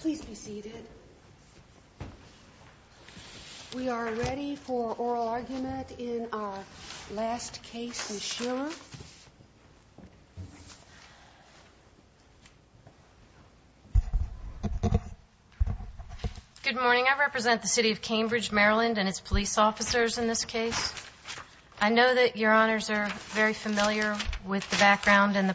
Please be seated. We are ready for oral argument in our last case. Good morning. I represent the city of Cambridge, Maryland and its police officers in this case. I know that your honors are very familiar with the background and the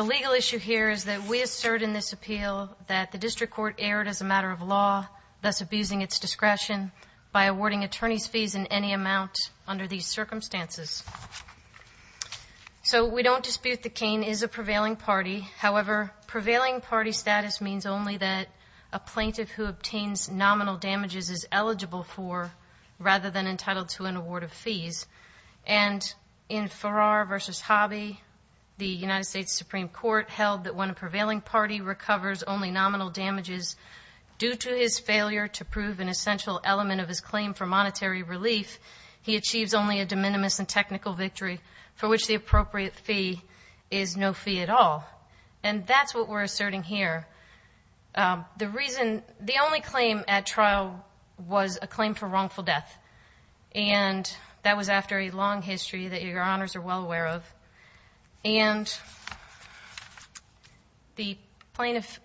The legal issue here is that we assert in this appeal that the district court erred as a matter of law, thus abusing its discretion by awarding attorneys fees in any amount under these circumstances. So we don't dispute that Kane is a prevailing party. However, prevailing party status means only that a plaintiff who obtains nominal damages is eligible for rather than entitled to an award of fees. And in Farrar v. Hobby, the United States Supreme Court held that when a prevailing party recovers only nominal damages due to his failure to prove an essential element of his claim for monetary relief, he achieves only a de minimis and technical victory for which the appropriate fee is no fee at all. And that's what we're asserting here. The reason, the only claim at trial was a claim for wrongful death. And that was after a long history that your honors are well aware of. And the plaintiff,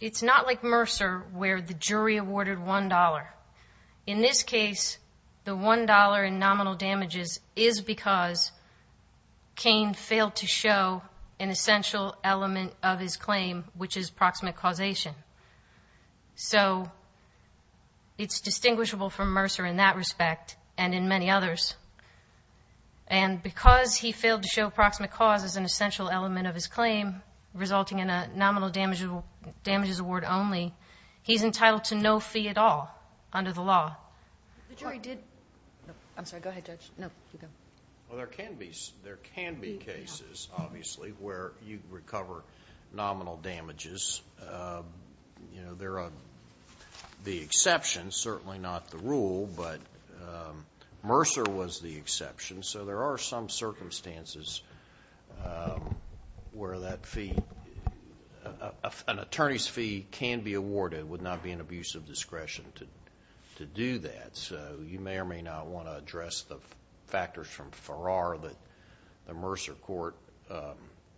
it's not like Mercer, where the jury awarded $1.00. In this case, the $1.00 in nominal damages is because Kane failed to show an It's distinguishable from Mercer in that respect and in many others. And because he failed to show proximate cause as an essential element of his claim, resulting in a nominal damages award only, he's entitled to no fee at all under the law. The jury did. I'm sorry. Go ahead, Judge. No, you go. Well, there can be. There can be cases, obviously, where you recover nominal damages. There are the exception, certainly not the rule, but Mercer was the exception. So there are some circumstances where that fee, an attorney's fee can be awarded, would not be an abuse of discretion to do that. So you may or may not want to address the factors from Farrar that the Mercer court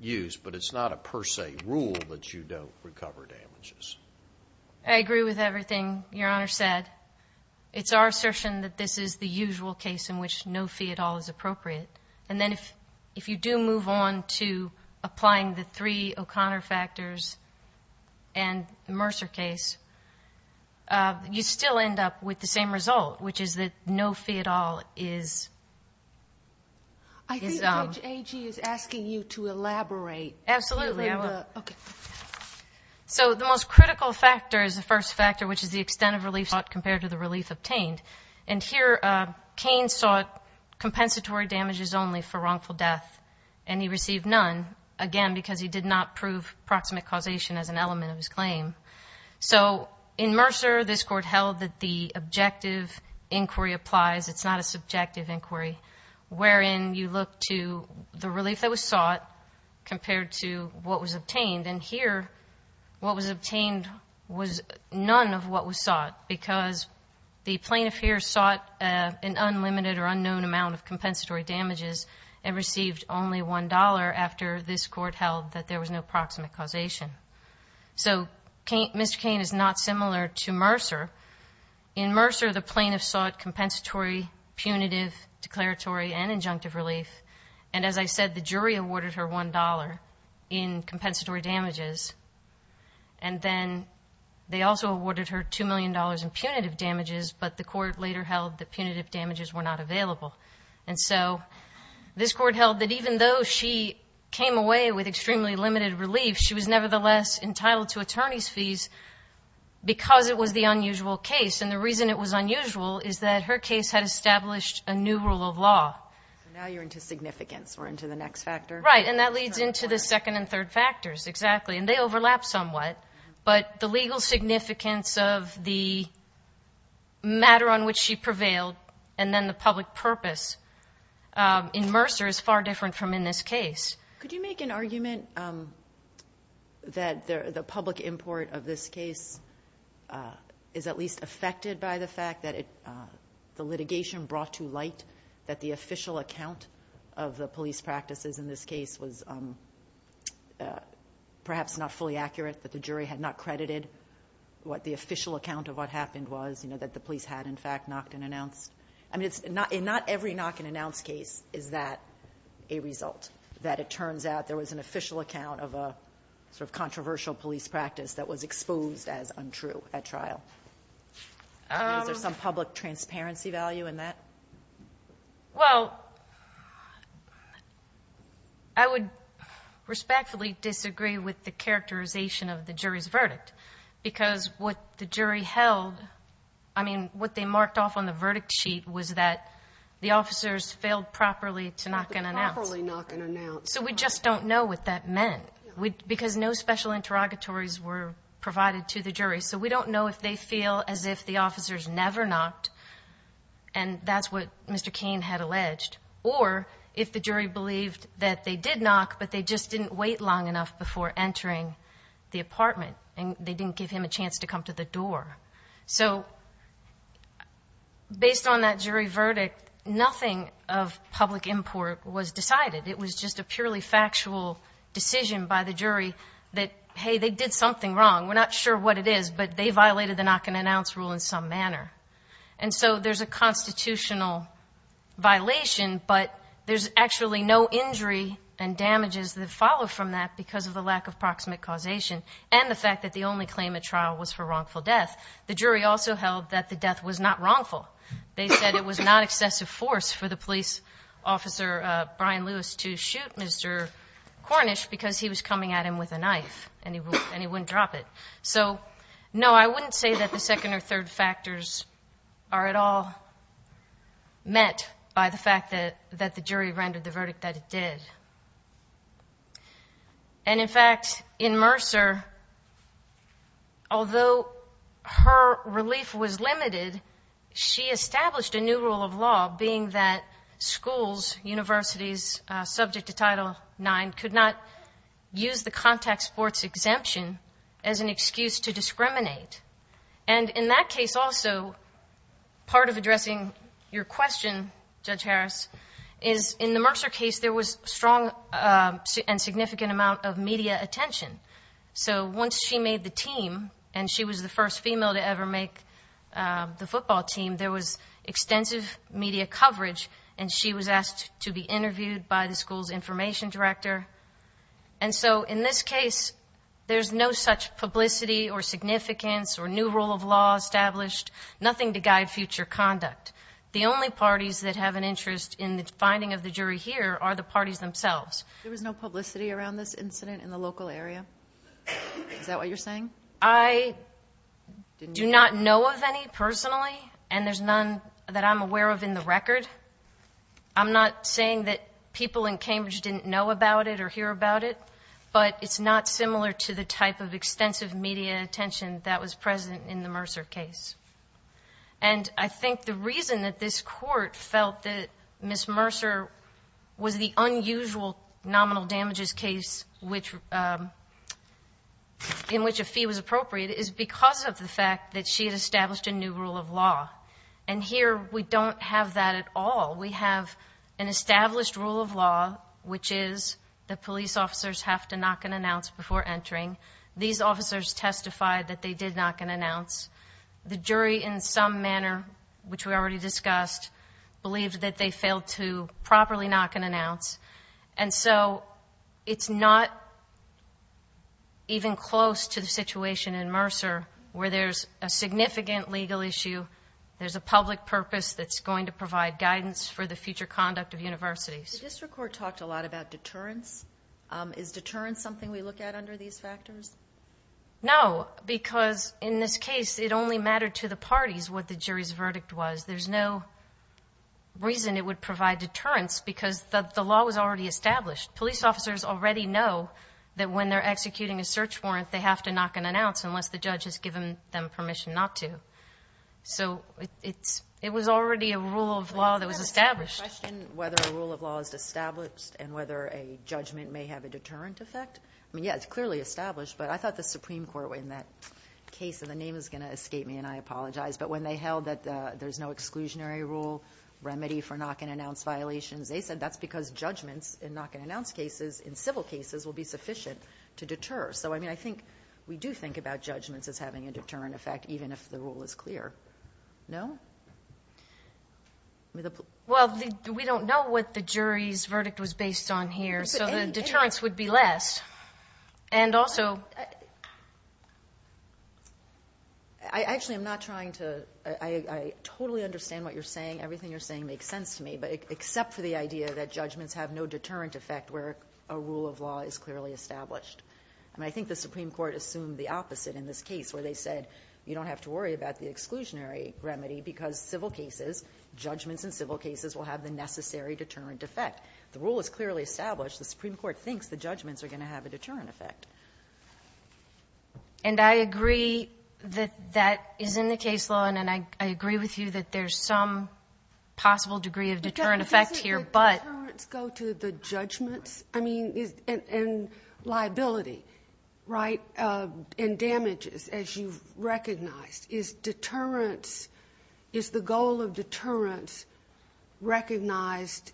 used, but it's not a per se rule that you don't recover damages. I agree with everything your honor said. It's our assertion that this is the usual case in which no fee at all is appropriate. And then if if you do move on to applying the three O'Connor factors and Mercer case, you still end up with the same result, which is that no fee at all is. I think A.G. is asking you to elaborate. Absolutely. So the most critical factor is the first factor, which is the extent of relief sought compared to the relief obtained. And here Cain sought compensatory damages only for wrongful death, and he received none, again, because he did not prove proximate causation as an element of his claim. So in Mercer, this court held that the objective inquiry applies. It's not a subjective inquiry wherein you look to the relief that was sought compared to what was obtained. And here what was obtained was none of what was sought because the plaintiff here sought an unlimited or unknown amount of compensatory damages and received only one dollar after this court held that there was no proximate causation. So Mr. Cain is not similar to Mercer. In Mercer, the plaintiff sought compensatory, punitive, declaratory, and injunctive relief. And as I said, the jury awarded her one dollar in compensatory damages. And then they also awarded her two million dollars in punitive damages, but the court later held that punitive damages were not available. And so this away with extremely limited relief, she was nevertheless entitled to attorney's fees because it was the unusual case. And the reason it was unusual is that her case had established a new rule of law. Now you're into significance. We're into the next factor. Right, and that leads into the second and third factors, exactly. And they overlap somewhat, but the legal significance of the matter on which she prevailed and then the public purpose in Mercer is far different from in this case. Could you make an argument that the public import of this case is at least affected by the fact that the litigation brought to light that the official account of the police practices in this case was perhaps not fully accurate, that the jury had not credited what the official account of what happened was, you know, that the police had in fact knocked and announced. I mean that it turns out there was an official account of a sort of controversial police practice that was exposed as untrue at trial. Is there some public transparency value in that? Well, I would respectfully disagree with the characterization of the jury's verdict because what the jury held, I mean, what they marked off on the verdict sheet was that the officers failed properly to knock and announce. So we just don't know what that meant. Because no special interrogatories were provided to the jury. So we don't know if they feel as if the officers never knocked, and that's what Mr. Kane had alleged, or if the jury believed that they did knock, but they just didn't wait long enough before entering the apartment and they didn't give him a chance to come to the was decided. It was just a purely factual decision by the jury that, hey, they did something wrong. We're not sure what it is, but they violated the knock-and-announce rule in some manner. And so there's a constitutional violation, but there's actually no injury and damages that follow from that because of the lack of proximate causation and the fact that the only claim at trial was for wrongful death. The jury also held that the death was not wrongful. They said it was not excessive force for the police officer, Brian Lewis, to shoot Mr. Cornish because he was coming at him with a knife and he wouldn't drop it. So, no, I wouldn't say that the second or third factors are at all met by the fact that the jury rendered the verdict that it did. And in fact, in Mercer, although her relief was limited, she established a new rule of law being that schools, universities subject to Title IX could not use the contact sports exemption as an excuse to discriminate. And in that case also, part of addressing your question, Judge Harris, is in the Mercer case, there was strong and significant amount of media attention. So once she made the team and she was the first female to ever make the football team, there was extensive media coverage and she was asked to be interviewed by the school's information director. And so in this case, there's no such publicity or significance or new rule of law established, nothing to guide future conduct. The only parties that have an interest in the finding of the jury here are the parties themselves. There was no publicity around this incident in the local area? Is that what you're saying? I do not know of any personally and there's none that I'm aware of in the record. I'm not saying that people in Cambridge didn't know about it or hear about it, but it's not similar to the type of extensive media attention that was Ms. Mercer was the unusual nominal damages case in which a fee was appropriate is because of the fact that she had established a new rule of law. And here we don't have that at all. We have an established rule of law, which is the police officers have to knock and announce before entering. These officers testified that they did knock and announce. The jury in some manner, which we already discussed, believed that they failed to properly knock and announce. And so it's not even close to the situation in Mercer where there's a significant legal issue, there's a public purpose that's going to provide guidance for the future conduct of universities. The district court talked a lot about deterrence. Is deterrence something we look at under these factors? No, because in this case, it only mattered to the parties what the jury's verdict was. There's no reason it would provide deterrence because the law was already established. Police officers already know that when they're executing a search warrant, they have to knock and announce unless the judge has given them permission not to. So it was already a rule of law that was established. Can I ask a question whether a rule of law is established and whether a judgment may have a deterrent effect? I mean, yeah, it's clearly established, but I thought the Supreme Court, in that case, and the name is going to escape me and I apologize, but when they held that there's no exclusionary rule remedy for knock and announce violations, they said that's because judgments in knock and announce cases, in civil cases, will be sufficient to deter. So, I mean, I think we do think about judgments as having a deterrent effect, even if the rule is clear. No? Well, we don't know what the jury's verdict was based on here, so the I actually, I'm not trying to, I totally understand what you're saying. Everything you're saying makes sense to me, but except for the idea that judgments have no deterrent effect where a rule of law is clearly established. I mean, I think the Supreme Court assumed the opposite in this case where they said you don't have to worry about the exclusionary remedy because civil cases, judgments in civil cases, will have the necessary deterrent effect. The And I agree that that is in the case law, and I agree with you that there's some possible degree of deterrent effect here, but... But doesn't the deterrents go to the judgments? I mean, and liability, right? And damages, as you've recognized. Is deterrents, is the goal of deterrents recognized,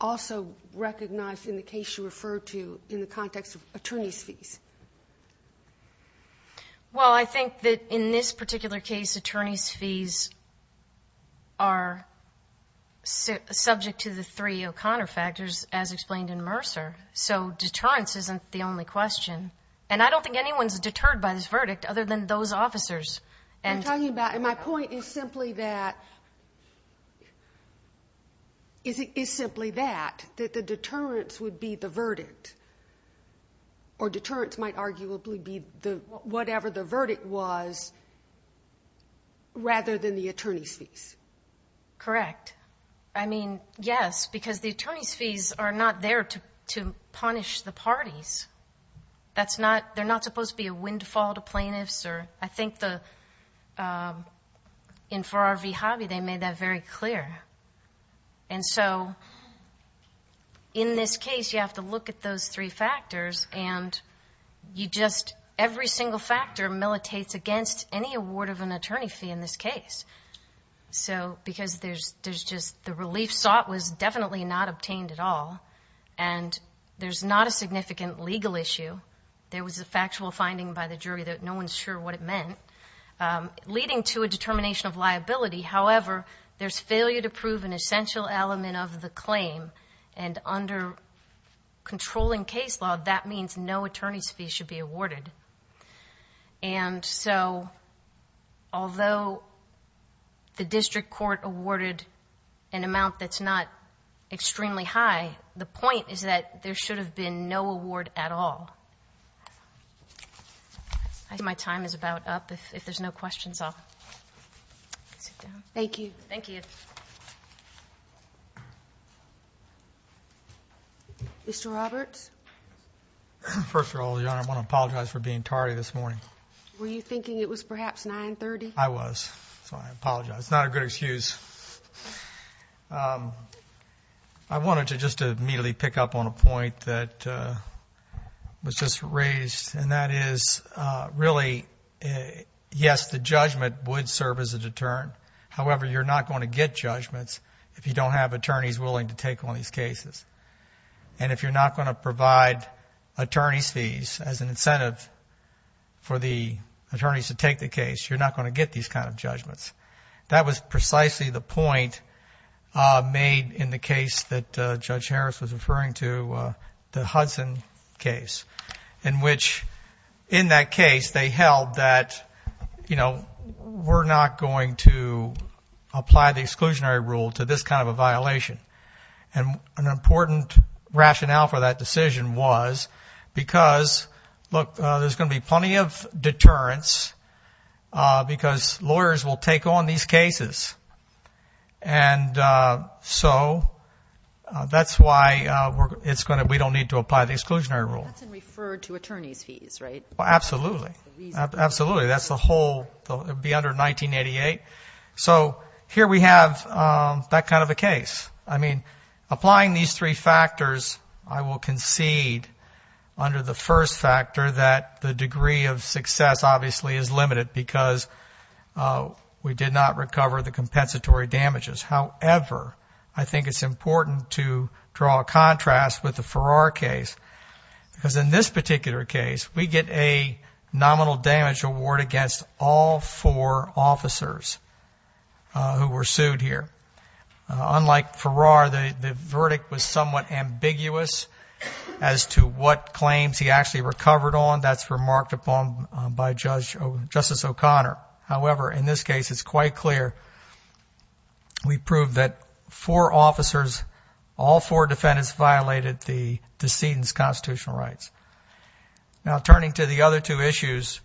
also recognized in the case you referred to in the context of attorney's fees? Well, I think that in this particular case, attorney's fees are subject to the three O'Connor factors, as explained in Mercer, so deterrence isn't the only question. And I don't think anyone's deterred by this verdict other than those officers, and... It's simply that, that the deterrents would be the verdict, or deterrents might arguably be whatever the verdict was, rather than the attorney's fees. Correct. I mean, yes, because the attorney's fees are not there to punish the parties. That's not, they're not supposed to be a windfall to plaintiffs, or... I think the... In Farrar v. Hobby, they made that very clear. And so, in this case, you have to look at those three factors, and you just... Every single factor militates against any award of an attorney fee in this case. So, because there's just... The relief sought was definitely not obtained at all, and there's not a significant legal issue. There was a factual finding by the jury that no one's sure what it meant, leading to a determination of liability. However, there's failure to prove an essential element of the claim, and under controlling case law, that means no attorney's fees should be awarded. And so, although the district court awarded an amount that's not extremely high, the point is that there should have been no award at all. I think my time is about up. If there's no questions, I'll sit down. Thank you. Thank you. Mr. Roberts? First of all, Your Honor, I wanna apologize for being tardy this morning. Were you thinking it was perhaps 9.30? I was, so I apologize. It's not a good excuse. I wanted to just immediately pick up on a point that was just raised, and that is really, yes, the judgment would serve as a deterrent. However, you're not gonna get judgments if you don't have attorneys willing to take on these cases. And if you're not gonna provide attorney's fees as an incentive for the attorneys to take the case, you're not gonna get these kind of judgments. That was precisely the point made in the case that Judge Harris was referring to, the Hudson case, in which, in that case, they held that we're not going to apply the exclusionary rule to this kind of a violation. And an important rationale for that decision was because, look, there's gonna be plenty of attorneys, and so that's why it's gonna, we don't need to apply the exclusionary rule. That's in referred to attorney's fees, right? Absolutely. Absolutely. That's the whole, it'd be under 1988. So here we have that kind of a case. I mean, applying these three factors, I will concede under the first factor that the degree of success, obviously, is limited because we did not recover the compensatory damages. However, I think it's important to draw a contrast with the Farrar case. Because in this particular case, we get a nominal damage award against all four officers who were sued here. Unlike Farrar, the verdict was somewhat ambiguous as to what claims he actually recovered on. That's remarked upon by Justice O'Connor. However, in this case, it's quite clear. We proved that four officers, all four defendants violated the decedent's constitutional rights. Now, turning to the other two issues,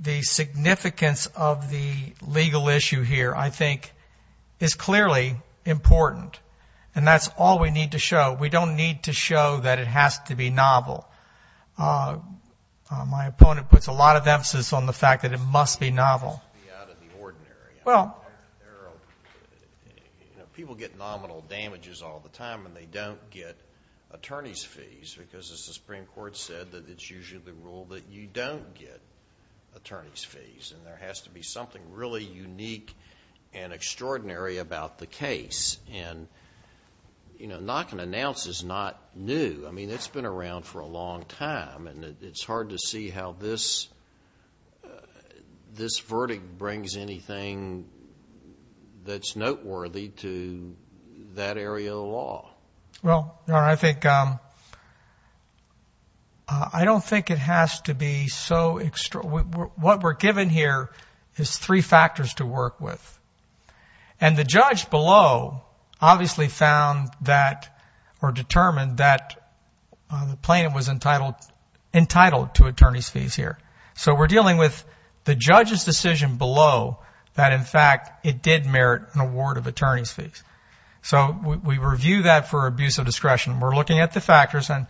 the significance of the legal issue here, I think, is clearly important. And that's all we need to show. We don't need to show that it has to be novel. My opponent puts a lot of emphasis on the fact that it must be novel. It must be out of the ordinary. People get nominal damages all the time when they don't get attorney's fees. Because as the Supreme Court said, that it's usually the rule that you don't get attorney's fees. And there has to be something really unique and extraordinary about the case. And, you know, what I can announce is not new. I mean, it's been around for a long time. And it's hard to see how this verdict brings anything that's noteworthy to that area of the law. Well, I think I don't think it has to be so extraordinary. What we're given here is three factors to work with. And the judge below obviously found that or determined that the plaintiff was entitled to attorney's fees here. So we're dealing with the judge's decision below that, in fact, it did merit an award of attorney's fees. So we review that for abuse of discretion. We're looking at the factors. And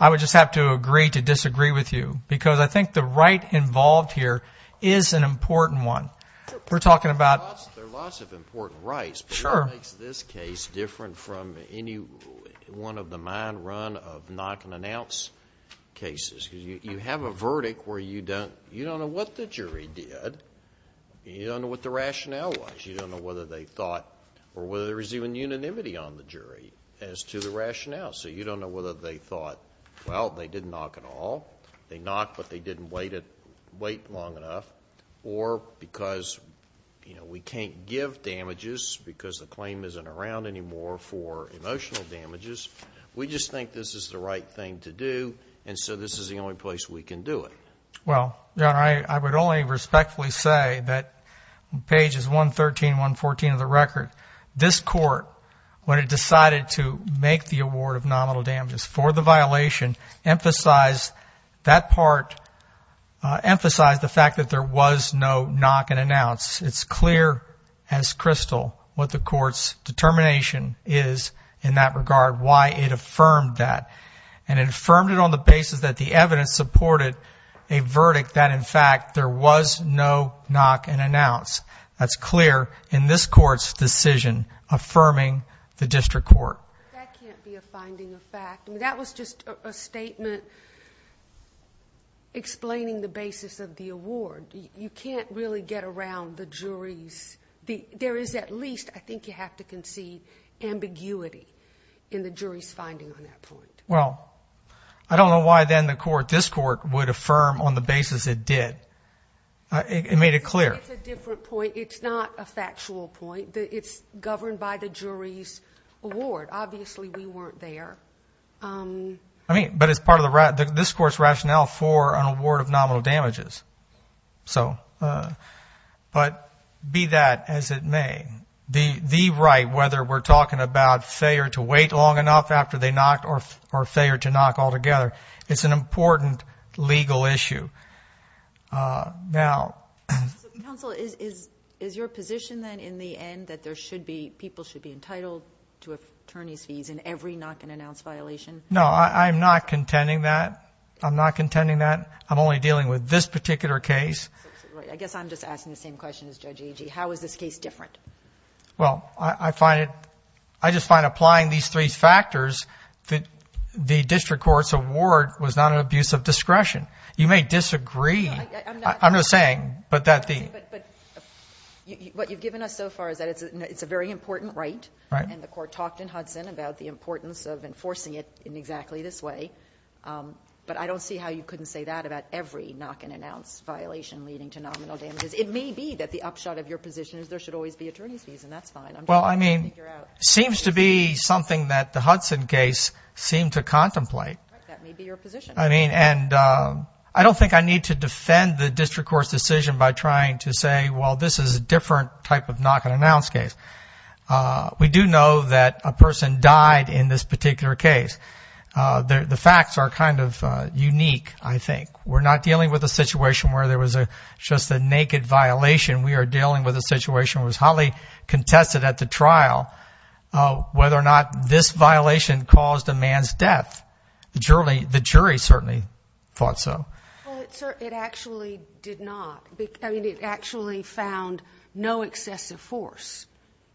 I would just have to agree to disagree with you because I think the right involved here is an important one. We're talking There are lots of important rights. But what makes this case different from any one of the mine run of knock and announce cases? Because you have a verdict where you don't know what the jury did. You don't know what the rationale was. You don't know whether they thought or whether there was even unanimity on the jury as to the rationale. So you don't know whether they thought, well, they didn't knock at all. They knocked, but they didn't wait long enough. Or because we can't give damages because the claim isn't around anymore for emotional damages. We just think this is the right thing to do. And so this is the only place we can do it. Well, I would only respectfully say that pages 113, 114 of the record, this court, when it decided to make the emphasize the fact that there was no knock and announce, it's clear as crystal what the court's determination is in that regard, why it affirmed that and affirmed it on the basis that the evidence supported a verdict that in fact there was no knock and announce. That's clear in this court's decision affirming the district court. That can't be a finding of fact. That was just a statement explaining the basis of the award. You can't really get around the jury's, there is at least, I think you have to concede, ambiguity in the jury's finding on that point. Well, I don't know why then the court, this court, would affirm on the basis it did. It made it clear. It's a different point. It's not a factual point. It's governed by the jury's award. Obviously, we weren't there. I mean, but it's part of this court's rationale for an award of nominal damages. So, but be that as it may, the right, whether we're talking about failure to wait long enough after they knocked or failure to knock altogether, it's an important legal issue. Now... So, counsel, is your position then in the end that there should be, people should be entitled to attorney's fees in every knock and announce violation? No, I'm not contending that. I'm not contending that. I'm only dealing with this particular case. I guess I'm just asking the same question as Judge Agee. How is this case different? Well, I find it, I just find applying these three factors that the district court's award was not an abuse of discretion. You may disagree. I'm not saying, but that the... And the court talked in Hudson about the importance of enforcing it in exactly this way. But I don't see how you couldn't say that about every knock and announce violation leading to nominal damages. It may be that the upshot of your position is there should always be attorney's fees, and that's fine. Well, I mean, it seems to be something that the Hudson case seemed to contemplate. That may be your position. I mean, and I don't think I need to defend the district court's decision by trying to say, well, this is a different type of knock and announce case. We do know that a person died in this particular case. The facts are kind of unique, I think. We're not dealing with a situation where there was just a naked violation. We are dealing with a situation that was highly contested at the trial, whether or not this violation caused a man's death. The jury certainly thought so. Well, sir, it actually did not. I mean, it actually found no excessive force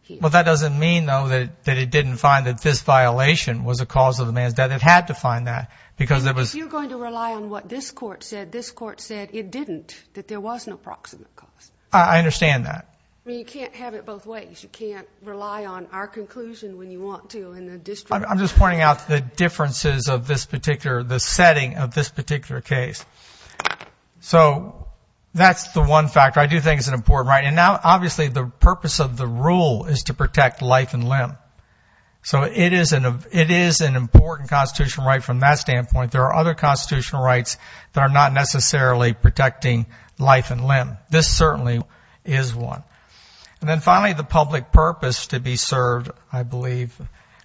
here. Well, that doesn't mean, though, that it didn't find that this violation was a cause of a man's death. It had to find that because there was... If you're going to rely on what this court said, this court said it didn't, that there was an approximate cause. I understand that. I mean, you can't have it both ways. You can't rely on our conclusion when you want to in the district. I'm just pointing out the differences of this particular, the setting of this particular case. So that's the one factor I do think is an important right. And now, obviously, the purpose of the rule is to protect life and limb. So it is an important constitutional right from that standpoint. There are other constitutional rights that are not necessarily protecting life and limb. This certainly is one. And then finally, the public purpose to be served, I believe.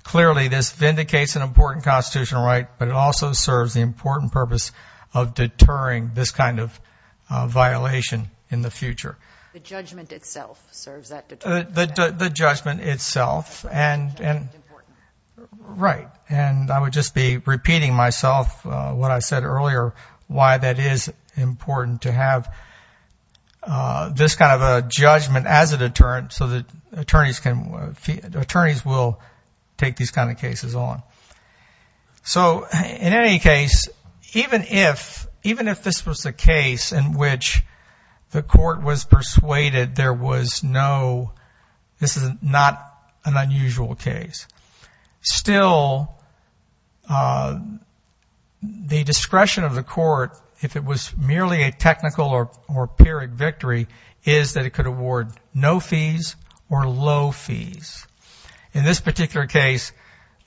Clearly, this vindicates an important constitutional right, but it also serves the important purpose of deterring this kind of violation in the future. The judgment itself serves that. The judgment itself and... Right. And I would just be repeating myself what I said earlier, why that is important to have this kind of a judgment as a deterrent so that attorneys can... Attorneys will take these kind of cases on. So in any case, even if, even if this was a case in which the court was persuaded there was no... This is not an unusual case. Still, the discretion of the court, if it was merely a technical or pyrrhic victory, is that it could award no fees or low fees. In this particular case,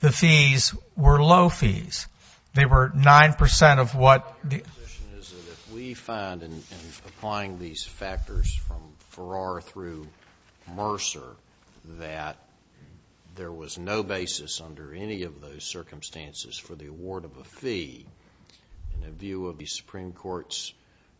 the fees were low fees. They were 9 percent of what... Your position is that if we find, in applying these factors from Farrar through Mercer, that there was no basis under any of those circumstances for the award of a fee, in the view of the Supreme Court's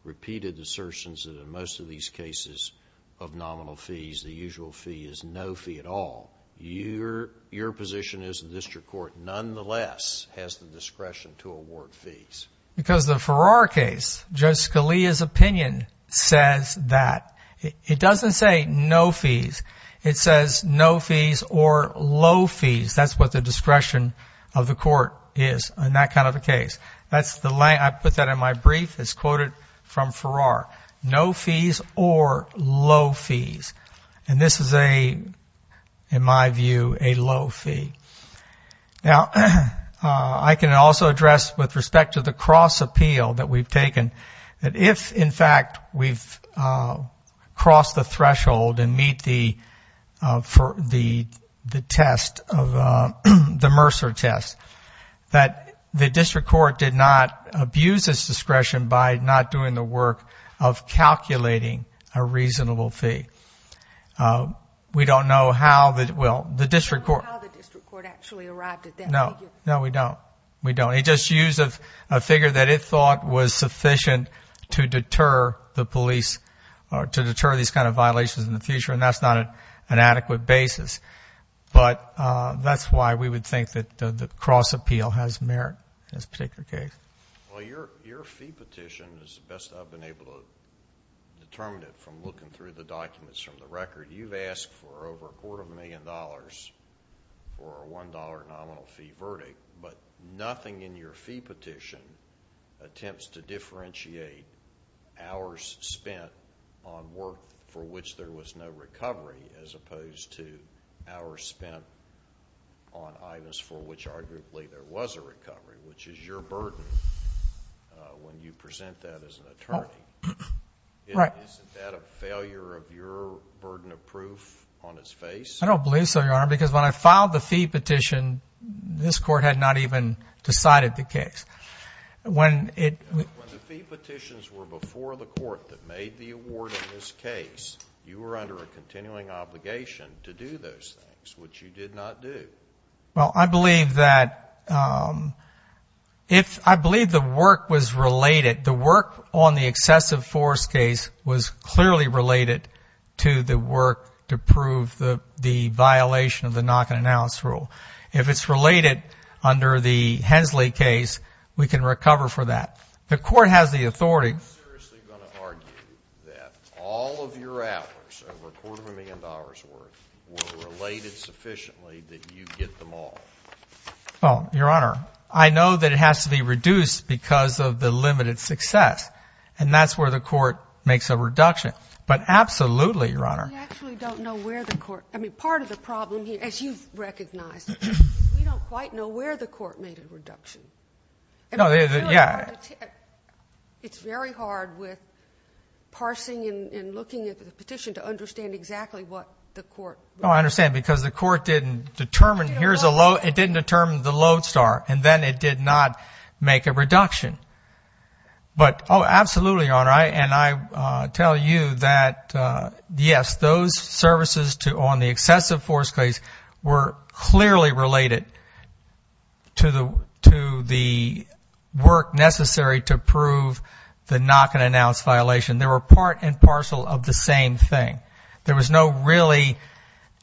repeated assertions that in most of these cases of nominal fees, the usual fee is no fee at all, your position is the district court nonetheless has the discretion to award fees. Because the Farrar case, Judge Scalia's opinion says that. It doesn't say no fees. It says no fees or low fees. That's what the discretion of the court is in that kind of a case. That's the... I put that in my brief. It's quoted from Farrar. No fees or low fees. And this is a, in my view, a low fee. Now, I can also address, with respect to the cross appeal that we've taken, that if, in fact, we've crossed the threshold and meet the test, the Mercer test, that the district court did not abuse its discretion by not doing the work of calculating a reasonable fee. We don't know how the, well, the district court... I don't know how the district court actually arrived at that. No. No, we don't. We don't. It just used a figure that it thought was sufficient to deter the police, to deter these kind of violations in the future, and that's not an adequate basis. But that's why we would think that the cross appeal has merit in this particular case. Well, your fee petition is the best I've been able to determine it from looking through the documents from the record. You've asked for over a quarter of a million dollars for a $1 nominal fee verdict, but nothing in your fee petition attempts to differentiate hours spent on work for which there was no recovery as opposed to hours spent on items for which, arguably, there was a recovery, which is your burden when you present that as an attorney. Oh, right. Isn't that a failure of your burden of proof on its face? I don't believe so, Your Honor, because when I filed the fee petition, this court had not even decided the case. When it... When the fee petitions were before the court that made the award in this case, you were under a continuing obligation to do those things, which you did not do. Well, I believe that if... I believe the work was related. The work on the excessive force case was clearly related to the work to prove the violation of the knock-and-announce rule. If it's related under the Hensley case, we can recover for that. The court has the authority... Are you seriously going to argue that all of your hours, over a quarter of a million dollars' worth, were related sufficiently that you get them all? Well, Your Honor, I know that it has to be reduced because of the limited success, and that's where the court makes a reduction. But absolutely, Your Honor. We actually don't know where the court... I mean, part of the problem here, as you've recognized, is we don't quite know where the court made a reduction. No, yeah. It's very hard with parsing and looking at the petition to understand exactly what the court... No, I understand. Because the court didn't determine, here's a load... It didn't determine the load star, and then it did not make a reduction. But, oh, absolutely, Your Honor. And I tell you that, yes, those services on the excessive force case were clearly related to the work necessary to prove the knock-and-announce violation. They were part and parcel of the same thing. There was no really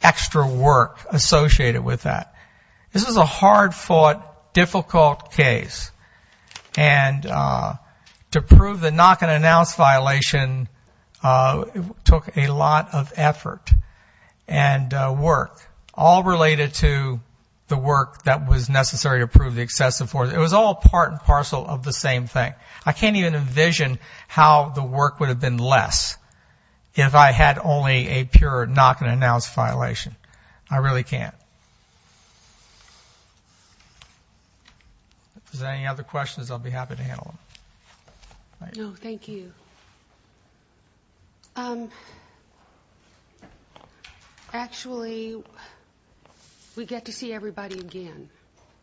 extra work associated with that. This was a hard-fought, difficult case. And to prove the knock-and-announce violation took a lot of effort and work, all related to the work that was necessary to prove the excessive force. It was all part and parcel of the same thing. I can't even envision how the work would have been less if I had only a pure knock-and-announce violation. I really can't. If there's any other questions, I'll be happy to handle them. No, thank you. Actually, we get to see everybody again,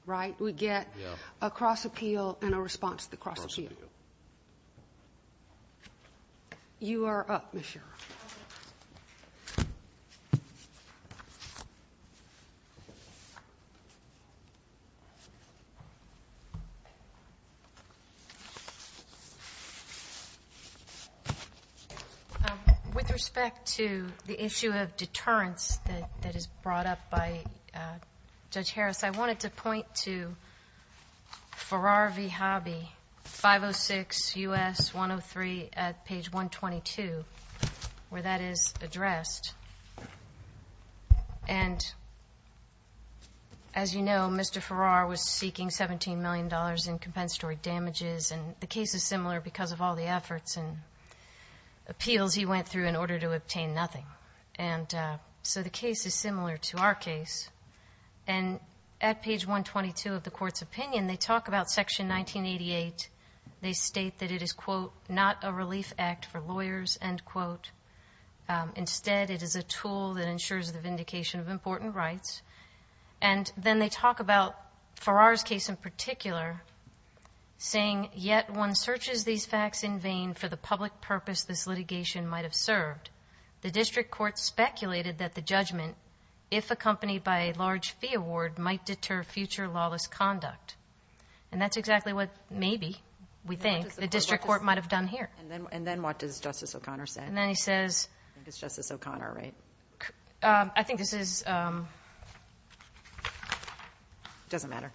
right? We get a cross-appeal and a response to the cross-appeal. You are up, Ms. Scherer. With respect to the issue of deterrence that is brought up by Judge Harris, I wanted to point to Farrar v. Hobby, 506 U.S. 103 at page 122, where that is addressed. And as you know, Mr. Farrar was seeking $17 million in compensatory damages, and the case is similar because of all the efforts and appeals he went through in order to obtain nothing. So the case is similar to our case. And at page 122 of the court's opinion, they talk about section 1988. They state that it is, quote, not a relief act for lawyers, end quote. Instead, it is a tool that ensures the vindication of important rights. And then they talk about Farrar's case in particular, saying, yet one searches these facts in vain for the public purpose this litigation might have served. The district court speculated that the judgment, if accompanied by a large fee award, might deter future lawless conduct. And that's exactly what, maybe, we think, the district court might have done here. And then what does Justice O'Connor say? And then he says... I think it's Justice O'Connor, right? I think this is... It doesn't matter.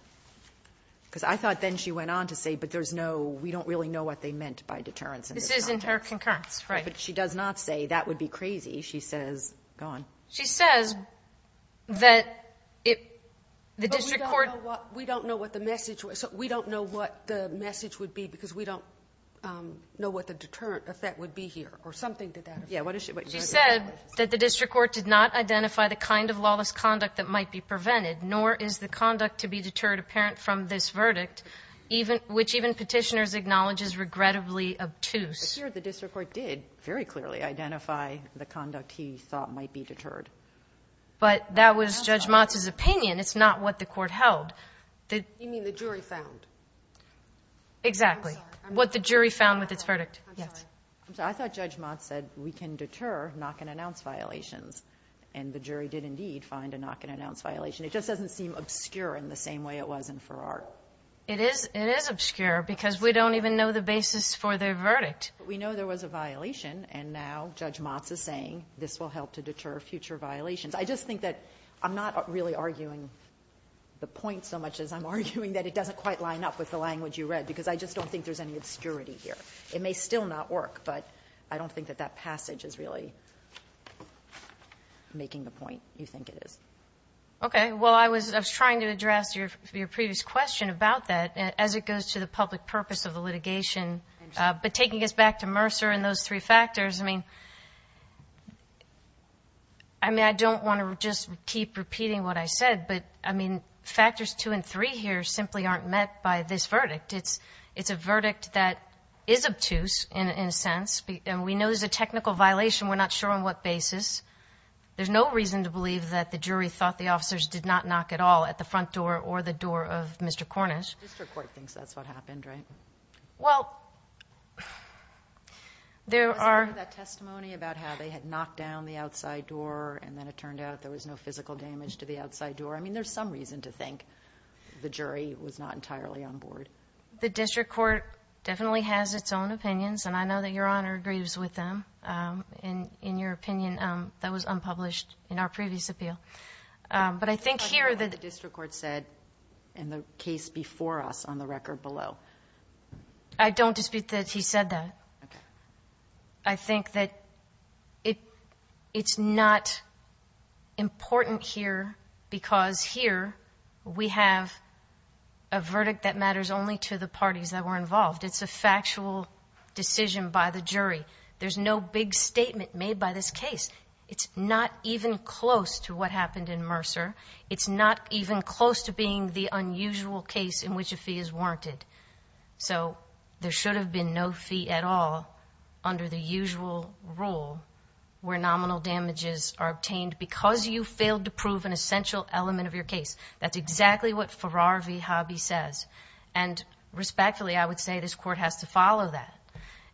Because I thought then she went on to say, but there's no... We don't really know what they meant by deterrence. This is in her concurrence, right? But she does not say, that would be crazy. She says... Go on. She says that the district court... We don't know what the message was. We don't know what the message would be because we don't know what the deterrent effect would be here, or something to that effect. Yeah, what is she... She said that the district court did not identify the kind of lawless conduct that might be prevented, nor is the conduct to be deterred apparent from this verdict, which even petitioners acknowledge is regrettably obtuse. But here, the district court did very clearly identify the conduct he thought might be deterred. But that was Judge Motz's opinion. It's not what the court held. You mean the jury found? Exactly. What the jury found with its verdict. Yes. I'm sorry. I thought Judge Motz said, we can deter knock and announce violations. And the jury did, indeed, find a knock and announce violation. It just doesn't seem obscure in the same way it was in Farrar. It is obscure because we don't even know the basis for their verdict. We know there was a violation, and now Judge Motz is saying this will help to deter future violations. I just think that I'm not really arguing the point so much as I'm arguing that it doesn't quite line up with the language you read because I just don't think there's any obscurity here. It may still not work, but I don't think that that passage is really making the point you think it is. Okay. Well, I was trying to address your previous question about that as it goes to the public purpose of the litigation. But taking us back to Mercer and those three factors, I mean, I mean, I don't want to just keep repeating what I said, but I mean, factors two and three here simply aren't met by this verdict. It's a verdict that is obtuse in a sense, and we know there's a technical violation. We're not sure on what basis. There's no reason to believe that the jury thought the officers did not knock at all at the front door or the door of Mr. Cornish. The district court thinks that's what happened, right? Well, there are... Was there any of that testimony about how they had knocked down the outside door and then it turned out there was no physical damage to the outside door? I mean, there's some reason to think the jury was not entirely on board. The district court definitely has its own opinions, and I know that Your Honor agrees with them in your opinion. That was unpublished in our previous appeal. But I think here... What the district court said in the case before us on the record below. I don't dispute that he said that. I think that it's not important here because here we have a verdict that matters only to the parties that were involved. It's a factual decision by the jury. There's no big statement made by this case. It's not even close to what happened in Mercer. It's not even close to being the unusual case in which a fee is warranted. So there should have been no fee at all under the usual rule where nominal damages are obtained because you failed to prove an essential element of your case. That's exactly what Farrar v. Hobby says. Respectfully, I would say this court has to follow that.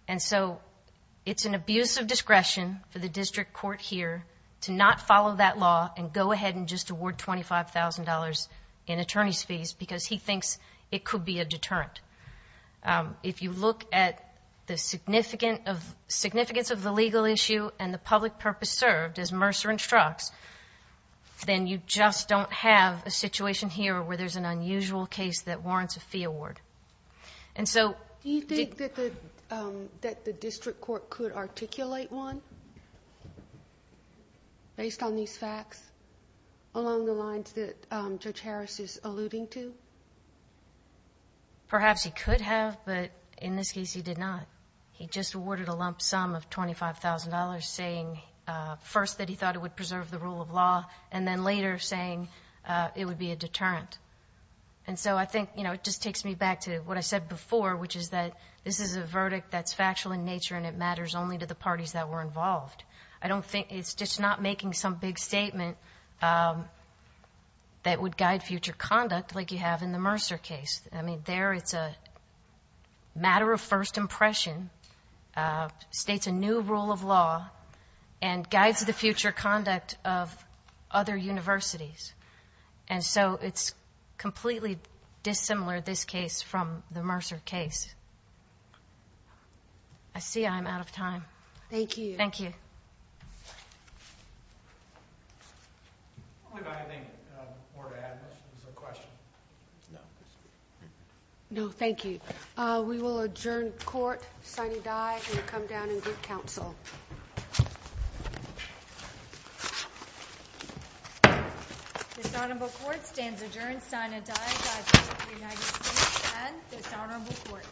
It's an abuse of discretion for the district court here to not follow that law and go ahead and just award $25,000 in attorney's fees because he thinks it could be a deterrent. If you look at the significance of the legal issue and the public purpose served as Mercer instructs, then you just don't have a situation here where there's an unusual case that warrants a fee award. Do you think that the district court could articulate one based on these facts along the lines that Judge Harris is alluding to? Perhaps he could have, but in this case he did not. He just awarded a lump sum of $25,000 saying first that he thought it would preserve the rule of law and then later saying it would be a deterrent. So I think it just takes me back to what I said before, which is that this is a verdict that's factual in nature and it matters only to the parties that were involved. I don't think it's just not making some big statement that would guide future conduct like you have in the Mercer case. I mean, there it's a matter of first impression, states a new rule of law, and guides the future conduct of other universities. And so it's completely dissimilar, this case, from the Mercer case. I see I'm out of time. Thank you. Thank you. I think we're going to have a question. No, thank you. We will adjourn court. Sonny Dye, you come down and give counsel. Dishonorable Court stands adjourned. Sonny Dye, Godspeed to the United States and dishonorable court.